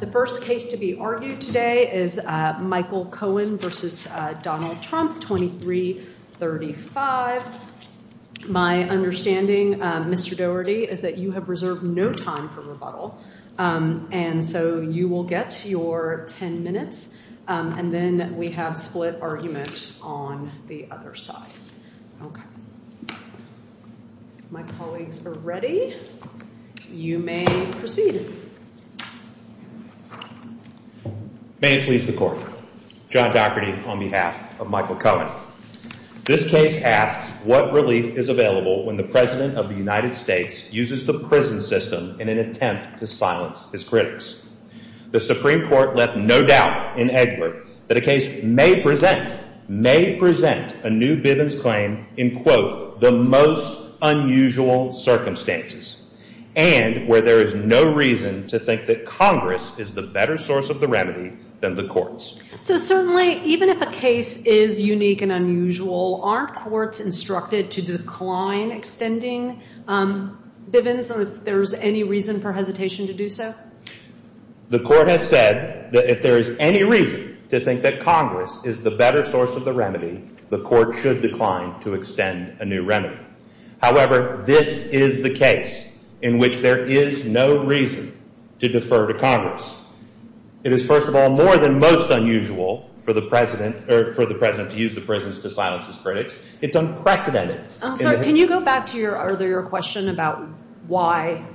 The first case to be argued today is Michael Cohen versus Donald Trump, 23-35. My understanding, Mr. Dougherty, is that you have reserved no time for rebuttal. And so you will get your 10 minutes. And then we have split argument on the other side. My colleagues are ready. You may proceed. May it please the Court. John Dougherty on behalf of Michael Cohen. This case asks what relief is available when the President of the United States uses the prison system in an attempt to silence his critics. The Supreme Court left no doubt in Edward that a case may present a new Bivens claim in quote, the most unusual circumstances. And where there is no reason to think that Congress is the better source of the remedy than the courts. So certainly, even if a case is unique and unusual, aren't courts instructed to decline extending Bivens or if there's any reason for hesitation to do so? The court has said that if there is any reason to think that Congress is the better source of the remedy, the court should decline to extend a new remedy. However, this is the case in which there is no reason to defer to Congress. It is, first of all, more than most unusual for the President to use the prisons to silence his critics. It's unprecedented. Can you go back to your earlier question about why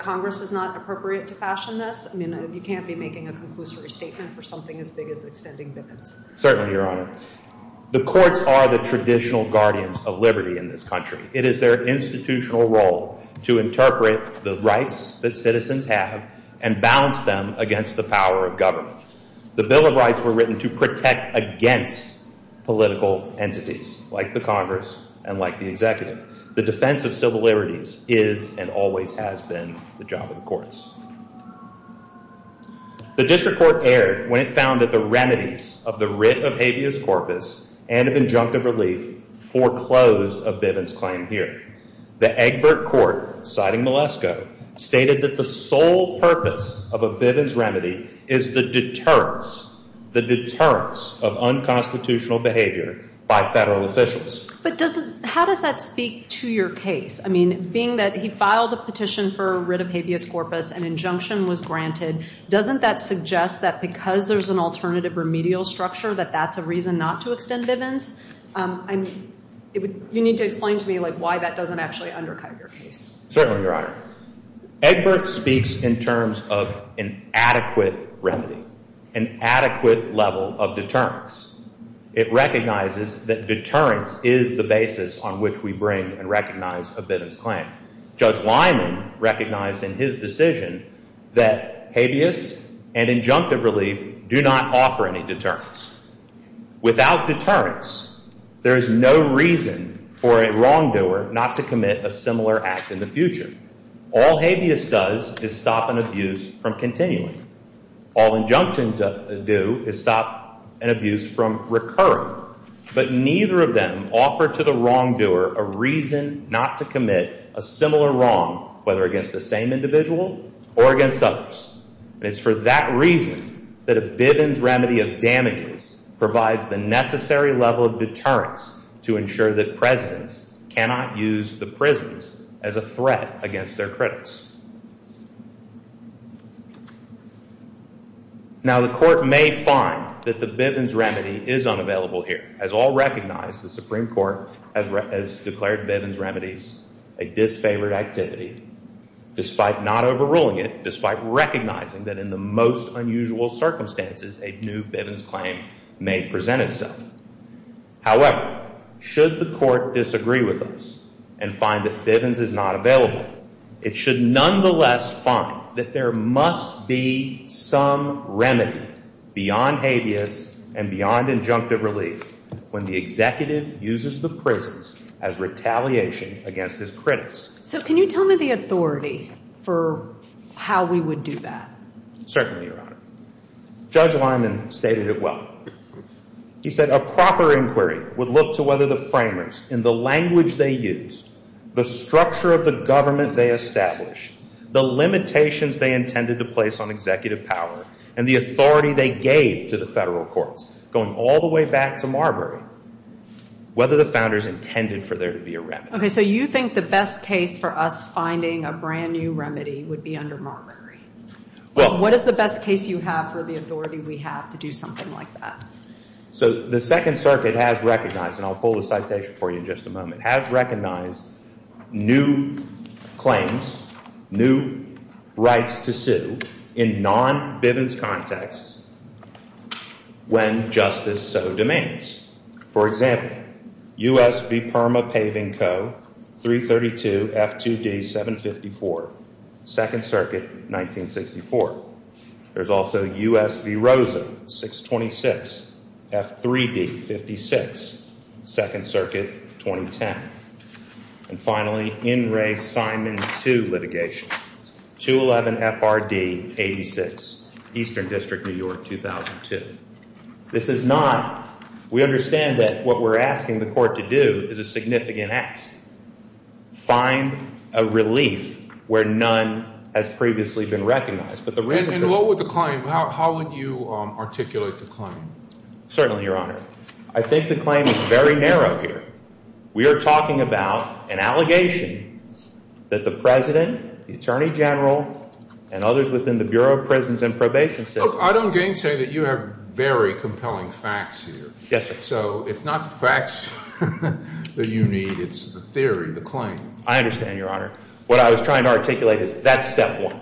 Congress is not appropriate to fashion this? I mean, you can't be making a conclusory statement for something as big as extending Bivens. Certainly, Your Honor. The courts are the traditional guardians of liberty in this country. It is their institutional role to interpret the rights that citizens have and balance them against the power of government. The Bill of Rights were written to protect against political entities, like the Congress and like the executive. The defense of civil liberties is and always has been the job of the courts. The district court erred when it found that the remedies of the writ of habeas corpus and of injunctive relief foreclosed of Bivens' claim here. The Egbert Court, citing Malesko, stated that the sole purpose of a Bivens remedy is the deterrence, the deterrence of unconstitutional behavior by federal officials. But how does that speak to your case? I mean, being that he filed a petition for a writ of habeas corpus, an injunction was granted, doesn't that suggest that because there's an alternative remedial structure, that that's a reason not to extend Bivens? I mean, you need to explain to me why that doesn't actually undercut your case. Certainly, Your Honor. Egbert speaks in terms of an adequate remedy, an adequate level of deterrence. It recognizes that deterrence is the basis on which we bring and recognize a Bivens claim. Judge Lyman recognized in his decision that habeas and injunctive relief do not offer any deterrence. Without deterrence, there is no reason for a wrongdoer not to commit a similar act in the future. All habeas does is stop an abuse from continuing. All injunctions do is stop an abuse from recurring. But neither of them offer to the wrongdoer a reason not to commit a similar wrong, whether against the same individual or against others. And it's for that reason that a Bivens remedy of damages provides the necessary level of deterrence to ensure that presidents cannot use the prisons as a threat against their critics. Now, the court may find that the Bivens remedy is unavailable here, as all recognize the Supreme Court has declared Bivens remedies a disfavored activity, despite not overruling it, despite recognizing that in the most unusual circumstances, a new Bivens claim may present itself. However, should the court disagree with us and find that Bivens is not available, it should nonetheless find that there must be some remedy beyond habeas and beyond injunctive relief when the executive uses the prisons as retaliation against his critics. So can you tell me the authority for how we would do that? Certainly, Your Honor. Judge Lyman stated it well. He said a proper inquiry would look to whether the framers, in the language they used, the structure of the government they established, the limitations they intended to place on executive power, and the authority they gave to the federal courts, going all the way back to Marbury, whether the founders intended for there to be a remedy. OK, so you think the best case for us finding a brand new remedy would be under Marbury. What is the best case you have for the authority we have to do something like that? So the Second Circuit has recognized, and I'll pull the citation for you in just a moment, has recognized new claims, new rights to sue in non-Bivens contexts when justice so demands. For example, US v. Perma Paving Co. 332 F2D 754, Second Circuit, 1964. There's also US v. Rosa 626 F3D 56, Second Circuit, 2010. And finally, N. Ray Simon 2 litigation, 211 FRD 86, Eastern District, New York, 2002. This is not, we understand that what we're asking the court to do is a significant ask. Find a relief where none has previously been recognized. not been able to find a relief. And what would the claim, how would you articulate the claim? Certainly, Your Honor, I think the claim is very narrow here. We are talking about an allegation that the president, the attorney general, and others within the Bureau of Prisons and Probation System. I don't gainsay that you have very compelling facts here. So it's not the facts that you need, it's the theory, the claim. I understand, Your Honor. What I was trying to articulate is that's step one.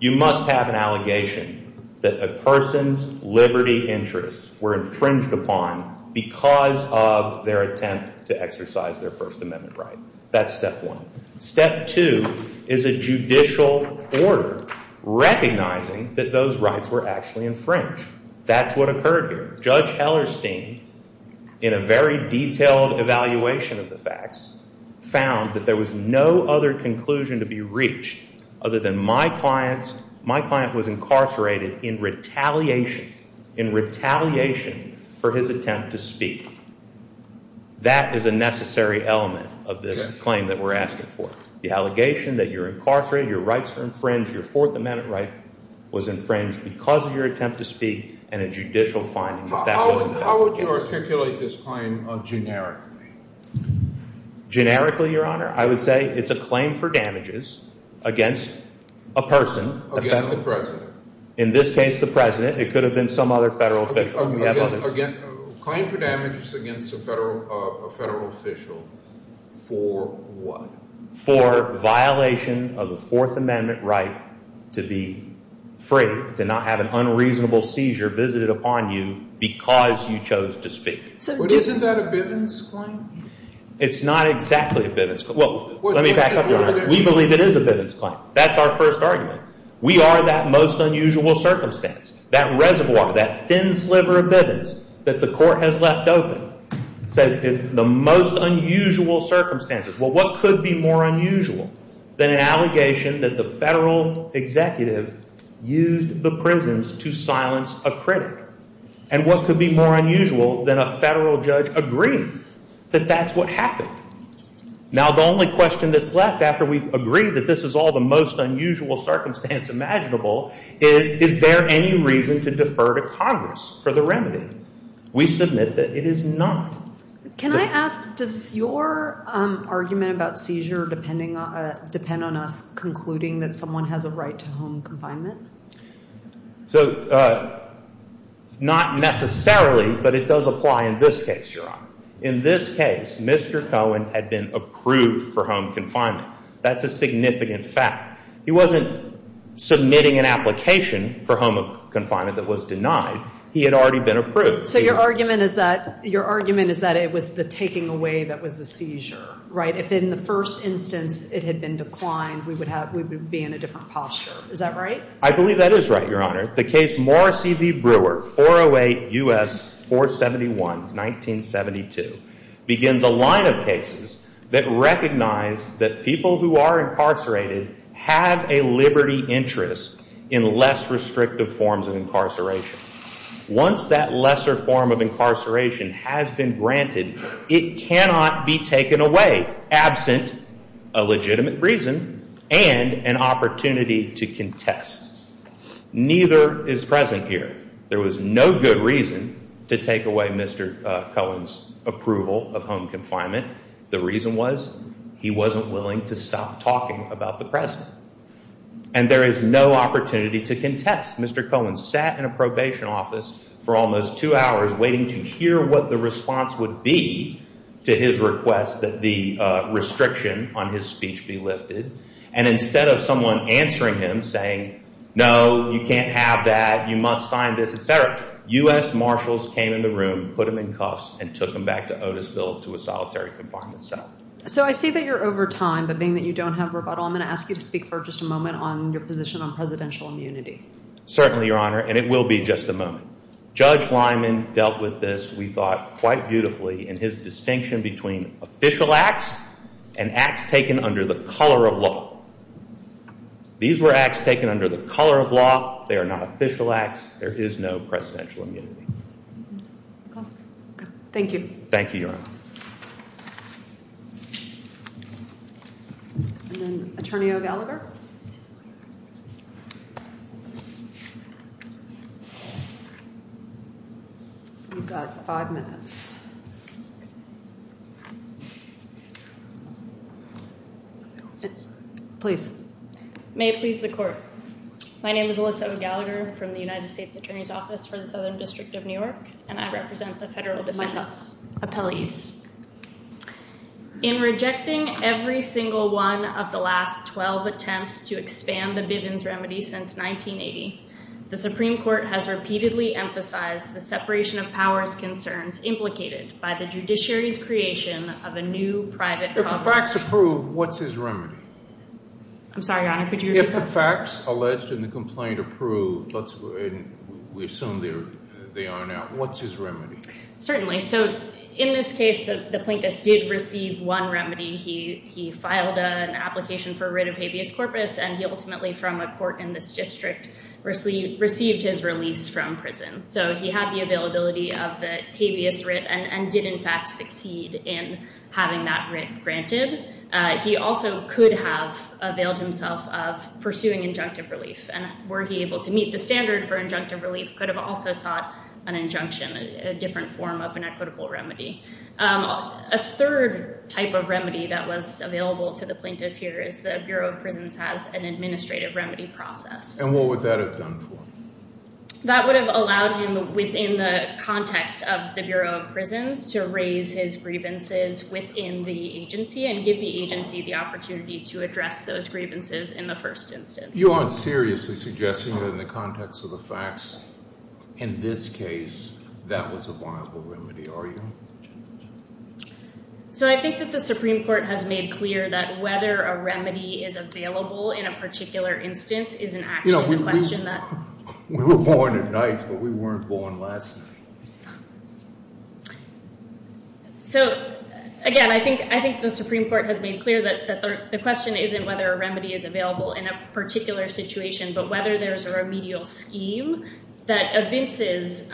You must have an allegation that a person's liberty interests were infringed upon because of their attempt to exercise their First Amendment right. That's step one. Step two is a judicial order recognizing that those rights were actually infringed. That's what occurred here. Judge Hellerstein, in a very detailed evaluation of the facts, found that there was no other conclusion to be reached other than my client was incarcerated in retaliation, in retaliation for his attempt to speak. That is a necessary element of this claim that we're asking for. The allegation that you're incarcerated, your rights are infringed, your Fourth Amendment right was infringed because of your attempt to speak and a judicial finding that that wasn't the case. How would you articulate this claim generically? Generically, Your Honor, I would say it's a claim for damages against a person. Against the president. In this case, the president. It could have been some other federal official. We have others. Claim for damages against a federal official for what? For violation of the Fourth Amendment right to be free, to not have an unreasonable seizure visited upon you because you chose to speak. Isn't that a Bivens claim? It's not exactly a Bivens claim. Well, let me back up, Your Honor. We believe it is a Bivens claim. That's our first argument. We are that most unusual circumstance. That reservoir, that thin sliver of Bivens that the court has left open says is the most unusual circumstances. Well, what could be more unusual than an allegation that the federal executive used the prisons to silence a critic? And what could be more unusual than a federal judge agreeing that that's what happened? Now, the only question that's left after we've agreed that this is all the most unusual circumstance imaginable is, is there any reason to defer to Congress for the remedy? We submit that it is not. Can I ask, does your argument about seizure depend on us concluding that someone has a right to home confinement? So not necessarily, but it does apply in this case, Your Honor. In this case, Mr. Cohen had been approved for home confinement. That's a significant fact. He wasn't submitting an application for home confinement that was denied. He had already been approved. So your argument is that it was the taking away that was the seizure, right? If in the first instance it had been declined, we would be in a different posture. Is that right? I believe that is right, Your Honor. The case Morrissey v. Brewer, 408 U.S. 471, 1972 begins a line of cases that recognize that people who are incarcerated have a liberty interest in less restrictive forms of incarceration. Once that lesser form of incarceration has been granted, it cannot be taken away absent a legitimate reason and an opportunity to contest. Neither is present here. There was no good reason to take away Mr. Cohen's approval of home confinement. The reason was he wasn't willing to stop talking about the present. And there is no opportunity to contest. Mr. Cohen sat in a probation office for almost two hours waiting to hear what the response would be to his request that the restriction on his speech be lifted. And instead of someone answering him saying, no, you can't have that, you must sign this, et cetera, U.S. marshals came in the room, put him in cuffs, and took him back to Otisville to a solitary confinement cell. So I see that you're over time. But being that you don't have rebuttal, I'm going to ask you to speak for just a moment on your position on presidential immunity. Certainly, Your Honor. And it will be just a moment. Judge Lyman dealt with this, we thought, quite beautifully in his distinction between official acts and acts taken under the color of law. These were acts taken under the color of law. They are not official acts. There is no presidential immunity. Thank you. Thank you, Your Honor. And then Attorney O'Gallagher. You've got five minutes. Please. May it please the court. My name is Alyssa O'Gallagher from the United States Attorney's Office for the Southern District of New York. And I represent the federal defense appellees. In rejecting every single one of the last 12 attempts to expand the Bivens remedy since 1980, the Supreme Court has repeatedly emphasized the separation of powers concerns implicated by the judiciary's creation of a new private cause of action. If the facts approve, what's his remedy? I'm sorry, Your Honor. Could you repeat that? If the facts alleged in the complaint approve, we assume they are now, what's his remedy? Certainly. So in this case, the plaintiff did receive one remedy. He filed an application for writ of habeas corpus. And he ultimately, from a court in this district, received his release from prison. So he had the availability of the habeas writ and did, in fact, succeed in having that writ granted. He also could have availed himself of pursuing injunctive relief. And were he able to meet the standard for injunctive relief, could have also sought an injunction, a different form of an equitable remedy. A third type of remedy that was available to the plaintiff here is the Bureau of Prisons has an administrative remedy process. And what would that have done for him? That would have allowed him, within the context of the Bureau of Prisons, to raise his grievances within the agency and give the agency the opportunity to address those grievances in the first instance. You aren't seriously suggesting that in the context of the facts, in this case, that was a viable remedy, are you? So I think that the Supreme Court has made clear that whether a remedy is available in a particular instance isn't actually the question that. We were born at night, but we weren't born last night. So again, I think the Supreme Court has made clear that the question isn't whether a remedy is available in a particular situation, but whether there is a remedial scheme that evinces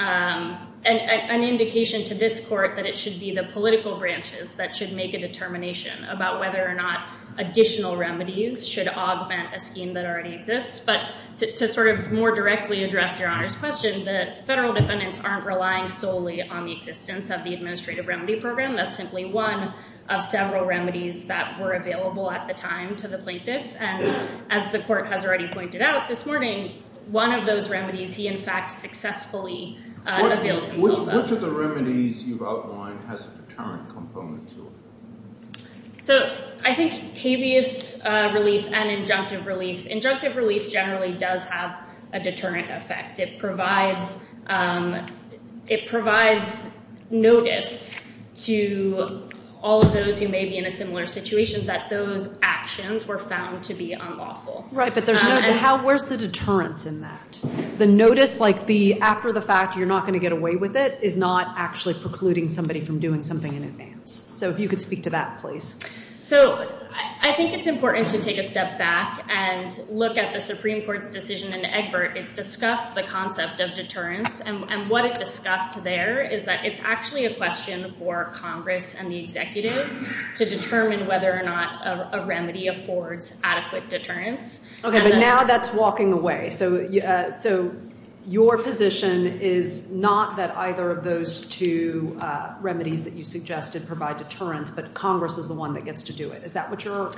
an indication to this court that it should be the political branches that should make a determination about whether or not additional remedies should augment a scheme that already exists. But to more directly address Your Honor's question, the federal defendants aren't relying solely on the existence of the administrative remedy program. That's simply one of several remedies that were available at the time to the plaintiff. And as the court has already pointed out this morning, one of those remedies he, in fact, successfully availed himself of. Which of the remedies you've outlined has a deterrent component to it? So I think habeas relief and injunctive relief. Injunctive relief generally does have a deterrent effect. It provides notice to all of those who may be in a similar situation that those actions were found to be unlawful. Right, but where's the deterrence in that? The notice after the fact, you're not going to get away with it, is not actually precluding somebody from doing something in advance. So if you could speak to that, please. So I think it's important to take a step back and look at the Supreme Court's decision in Egbert. It discussed the concept of deterrence. And what it discussed there is that it's actually a question for Congress and the executive to determine whether or not a remedy affords adequate deterrence. OK, but now that's walking away. So your position is not that either of those two remedies that you suggested provide deterrence, but Congress is the one that gets to do it. Is that what you're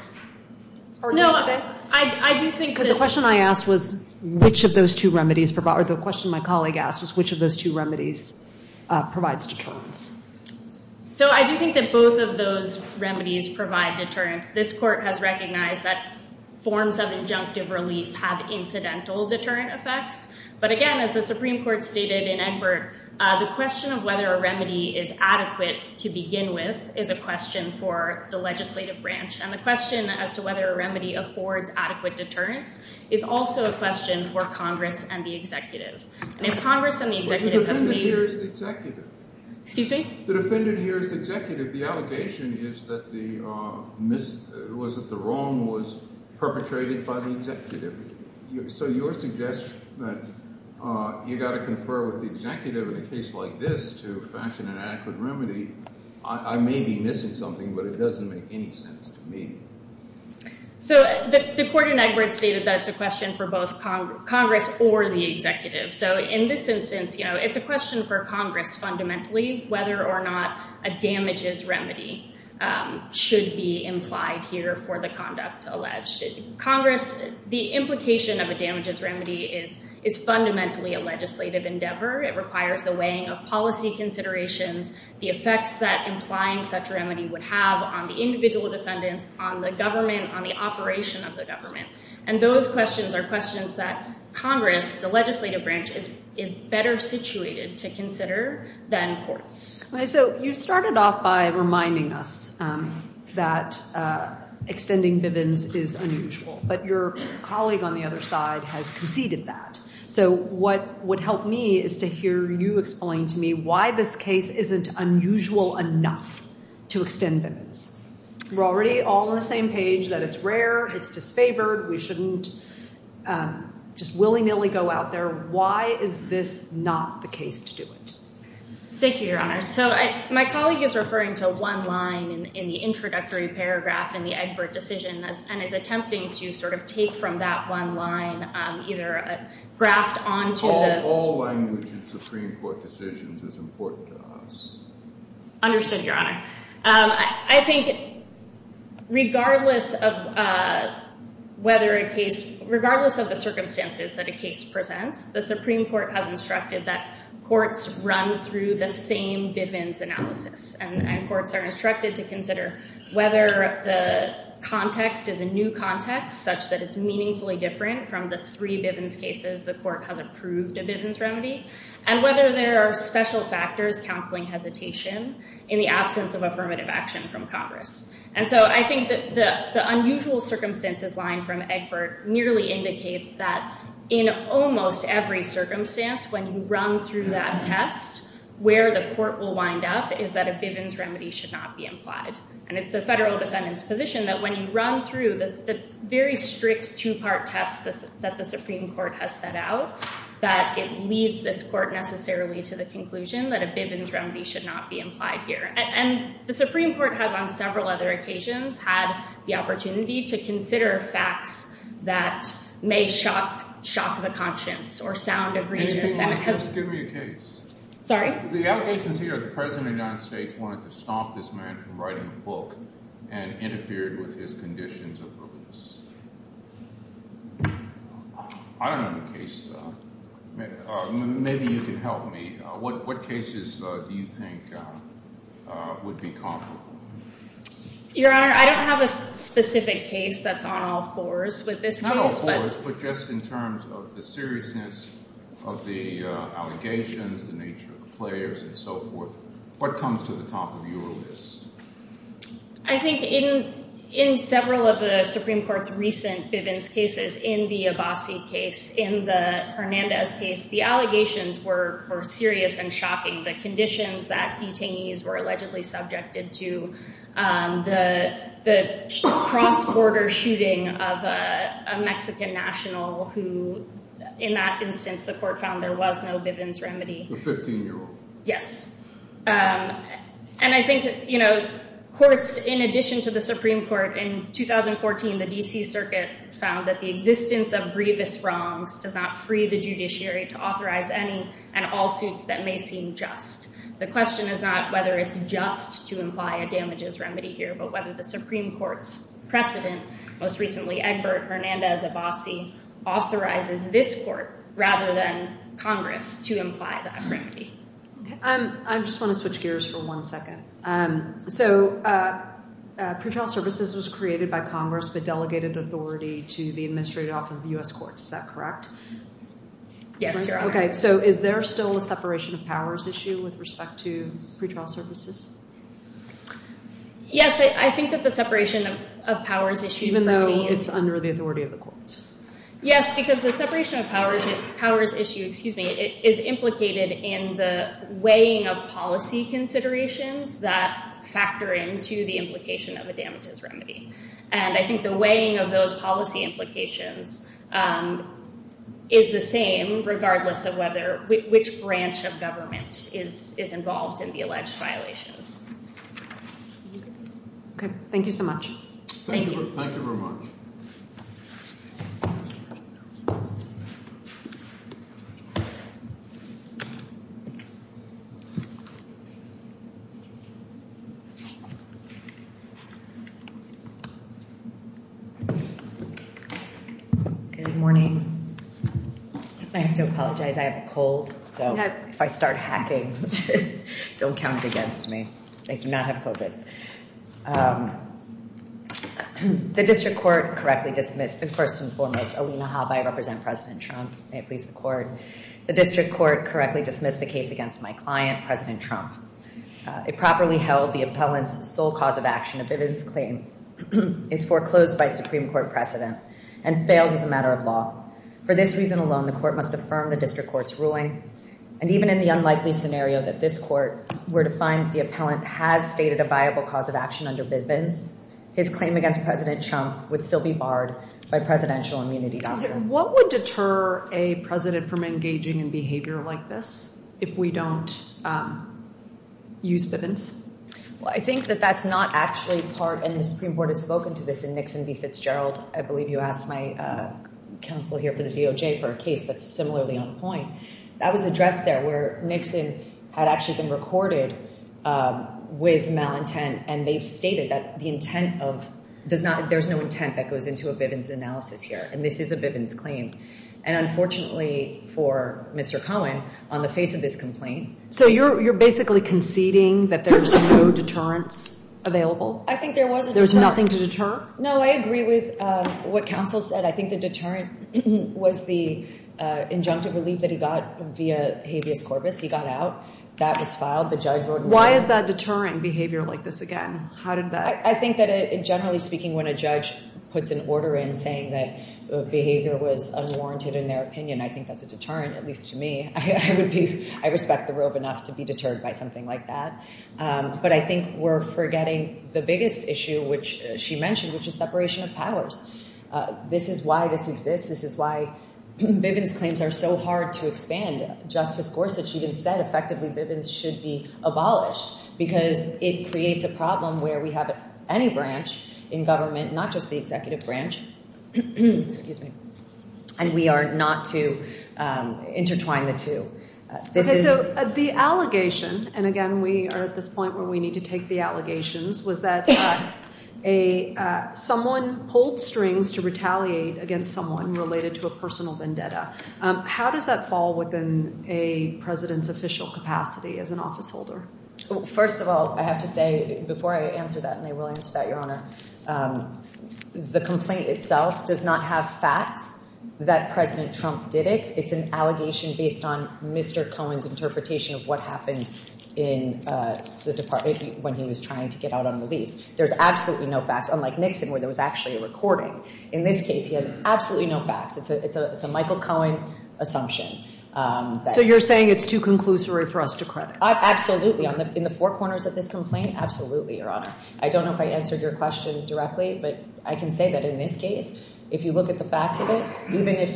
arguing today? No, I do think that. Because the question I asked was which of those two remedies provide, or the question my colleague asked was which of those two remedies provides deterrence. So I do think that both of those remedies provide deterrence. This court has recognized that forms of injunctive relief have incidental deterrent effects. But again, as the Supreme Court stated in Egbert, the question of whether a remedy is adequate to begin with is a question for the legislative branch. And the question as to whether a remedy affords adequate deterrence is also a question for Congress and the executive. And if Congress and the executive have made it. The defendant here is the executive. Excuse me? The defendant here is the executive. The allegation is that the wrong was perpetrated by the executive. So your suggestion that you've got to confer with the executive in a case like this to fashion an adequate remedy, I may be missing something, but it doesn't make any sense to me. So the court in Egbert stated that it's a question for both Congress or the executive. So in this instance, it's a question for Congress fundamentally whether or not a damages remedy should be implied here for the conduct alleged. Congress, the implication of a damages remedy is fundamentally a legislative endeavor. It requires the weighing of policy considerations, the effects that implying such remedy would have on the individual defendants, on the government, on the operation of the government. And those questions are questions that Congress, the legislative branch, is better situated to consider than courts. So you started off by reminding us that extending Bivens is unusual. But your colleague on the other side has conceded that. So what would help me is to hear you explain to me why this case isn't unusual enough to extend Bivens. We're already all on the same page that it's rare. It's disfavored. We shouldn't just willy-nilly go out there. Why is this not the case to do it? Thank you, Your Honor. So my colleague is referring to one line in the introductory paragraph in the Egbert decision and is attempting to sort of take from that one line, either graft onto the- All language in Supreme Court decisions is important to us. Understood, Your Honor. I think regardless of whether a case, regardless of the circumstances that a case presents, the Supreme Court has instructed that courts run through the same Bivens analysis. And courts are instructed to consider whether the context is a new context such that it's meaningfully different from the three Bivens cases the court has approved a Bivens remedy and whether there are special factors counseling hesitation in the absence of affirmative action from Congress. And so I think that the unusual circumstances line from Egbert nearly indicates that in almost every circumstance, when you run through that test, where the court will wind up is that a Bivens remedy should not be implied. And it's the federal defendant's position that when you run through the very strict two-part test that the Supreme Court has set out, that it leads this court necessarily to the conclusion that a Bivens remedy should not be implied here. And the Supreme Court has, on several other occasions, had the opportunity to consider facts that may shock the conscience or sound egregious. Maybe you want to just give me a case. Sorry? The allegations here that the President of the United States wanted to stop this man from writing a book and interfered with his conditions of release. I don't have a case, though. Maybe you can help me. What cases do you think would be comparable? Your Honor, I don't have a specific case that's on all fours with this case. Not all fours, but just in terms of the seriousness of the allegations, the nature of the players, and so forth. What comes to the top of your list? I think in several of the Supreme Court's recent Bivens cases, in the Abbasi case, in the Hernandez case, the allegations were serious and shocking. The conditions that detainees were allegedly subjected to, the cross-border shooting of a Mexican national who, in that instance, the court found there was no Bivens remedy. The 15-year-old. Yes. And I think courts, in addition to the Supreme Court, in 2014, the DC Circuit found that the existence of grievous wrongs does not free the judiciary to authorize any and all suits that may seem just. The question is not whether it's just to imply a damages remedy here, but whether the Supreme Court's precedent, most recently Egbert Hernandez Abbasi, authorizes this court, rather than Congress, to imply that remedy. I just want to switch gears for one second. So pretrial services was created by Congress, but delegated authority to the administrative office of the US courts, is that correct? Yes, Your Honor. So is there still a separation of powers issue with respect to pretrial services? Yes, I think that the separation of powers issues pertains. Even though it's under the authority of the courts? Yes, because the separation of powers issue is implicated in the weighing of policy considerations that factor into the implication of a damages remedy. And I think the weighing of those policy implications is the same, regardless of which branch of government is involved in the alleged violations. OK, thank you so much. Thank you. Thank you very much. Good morning. I have to apologize. I have a cold. So if I start hacking, don't count it against me. I do not have COVID. The district court correctly dismissed, and first and foremost, Alina Habe, I represent President Trump. May it please the court. The district court correctly dismissed the case against my client, President Trump. It properly held the appellant's sole cause of action, a bivviness claim, is foreclosed by Supreme Court precedent and fails as a matter of law. For this reason alone, the court must affirm the district court's ruling. And even in the unlikely scenario that this court were to find the appellant has stated a viable cause of action under bivviness, his claim against President Trump would still be barred by presidential immunity doctrine. What would deter a president from engaging in behavior like this if we don't use bivviness? Well, I think that that's not actually part, and the Supreme Court has spoken to this in Nixon v. Fitzgerald. I believe you asked my counsel here for the DOJ for a case that's similarly on point. That was addressed there, where Nixon had actually been recorded with malintent. And they've stated that the intent of does not, there's no intent that goes into a bivviness analysis here. And this is a bivviness claim. And unfortunately for Mr. Cohen, on the face of this complaint. So you're basically conceding that there's no deterrence available? I think there was a deterrent. There's nothing to deter? No, I agree with what counsel said. I think the deterrent was the injunctive relief that he got via habeas corpus. He got out. That was filed. The judge wrote an order. Why is that deterring behavior like this again? How did that? I think that generally speaking, when a judge puts an order in saying that behavior was unwarranted in their opinion, I think that's a deterrent, at least to me. I respect the rule of enough to be deterred by something like that. But I think we're forgetting the biggest issue, which she mentioned, which is separation of powers. This is why this exists. This is why bivviness claims are so hard to expand. Justice Gorsuch even said, effectively, bivviness should be abolished. Because it creates a problem where we have any branch in government, not just the executive branch, and we are not to intertwine the two. The allegation, and again, we are at this point where we need to take the allegations, was that someone pulled strings to retaliate against someone related to a personal vendetta. How does that fall within a president's official capacity as an officeholder? First of all, I have to say, before I answer that, and I will answer that, Your Honor, the complaint itself does not have facts that President Trump did it. It's an allegation based on Mr. Cohen's interpretation of what happened in the department when he was trying to get out on release. There's absolutely no facts, unlike Nixon, where there was actually a recording. In this case, he has absolutely no facts. It's a Michael Cohen assumption. So you're saying it's too conclusory for us to credit? Absolutely. In the four corners of this complaint, absolutely, Your Honor. I don't know if I answered your question directly, but I can say that in this case, if you look at the facts of it, even if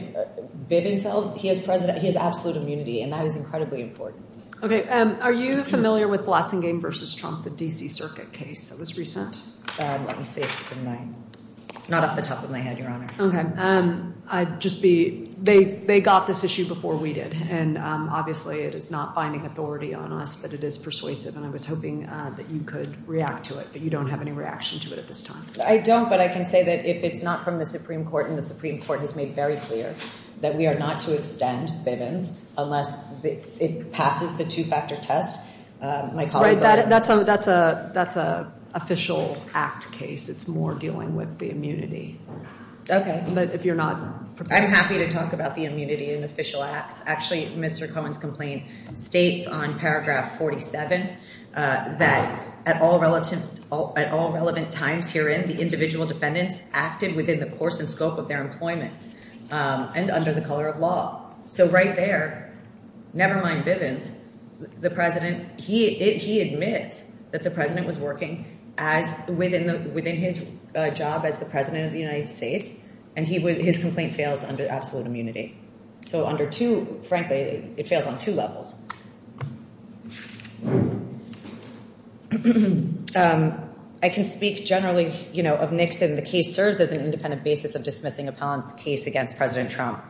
Bivens tells, he has absolute immunity, and that is incredibly important. OK. Are you familiar with Blasingame versus Trump, the DC Circuit case that was recent? Let me see if it's in my, not off the top of my head, Your Honor. OK. I'd just be, they got this issue before we did. And obviously, it is not finding authority on us, but it is persuasive. And I was hoping that you could react to it, but you don't have any reaction to it at this time. I don't, but I can say that if it's not from the Supreme Court, and the Supreme Court has made very clear that we are not to extend Bivens unless it causes the two-factor test, my colleague will. Right, that's an official act case. It's more dealing with the immunity. OK, but if you're not prepared. I'm happy to talk about the immunity in official acts. Actually, Mr. Cohen's complaint states on paragraph 47 that, at all relevant times herein, the individual defendants acted within the course and scope of their employment and under the color of law. So right there, never mind Bivens, the president, he admits that the president was working within his job as the president of the United States, and his complaint fails under absolute immunity. So under two, frankly, it fails on two levels. I can speak generally of Nixon. The case serves as an independent basis of dismissing a Pons case against President Trump.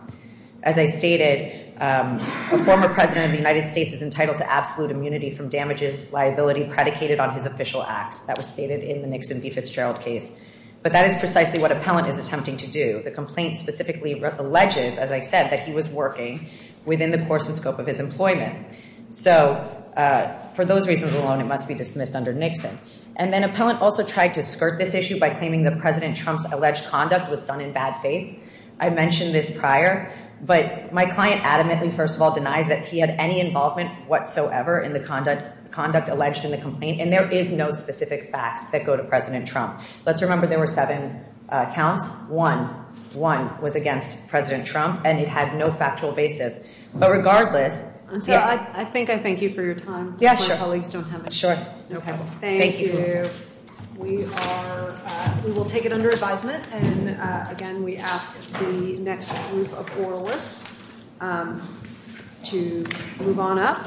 As I stated, a former president of the United States is entitled to absolute immunity from damages liability predicated on his official acts. That was stated in the Nixon v. Fitzgerald case. But that is precisely what Appellant is attempting to do. The complaint specifically alleges, as I said, that he was working within the course and scope of his employment. So for those reasons alone, it must be dismissed under Nixon. And then Appellant also tried to skirt this issue by claiming that President Trump's alleged conduct was done in bad faith. I mentioned this prior. But my client adamantly, first of all, denies that he had any involvement whatsoever in the conduct alleged in the complaint. And there is no specific facts that go to President Trump. Let's remember there were seven counts. One was against President Trump, and it had no factual basis. But regardless, yeah. And so I think I thank you for your time. Yeah, sure. My colleagues don't have it. Sure. OK. Thank you. We will take it under advisement. And again, we ask the next group of oralists to move on up.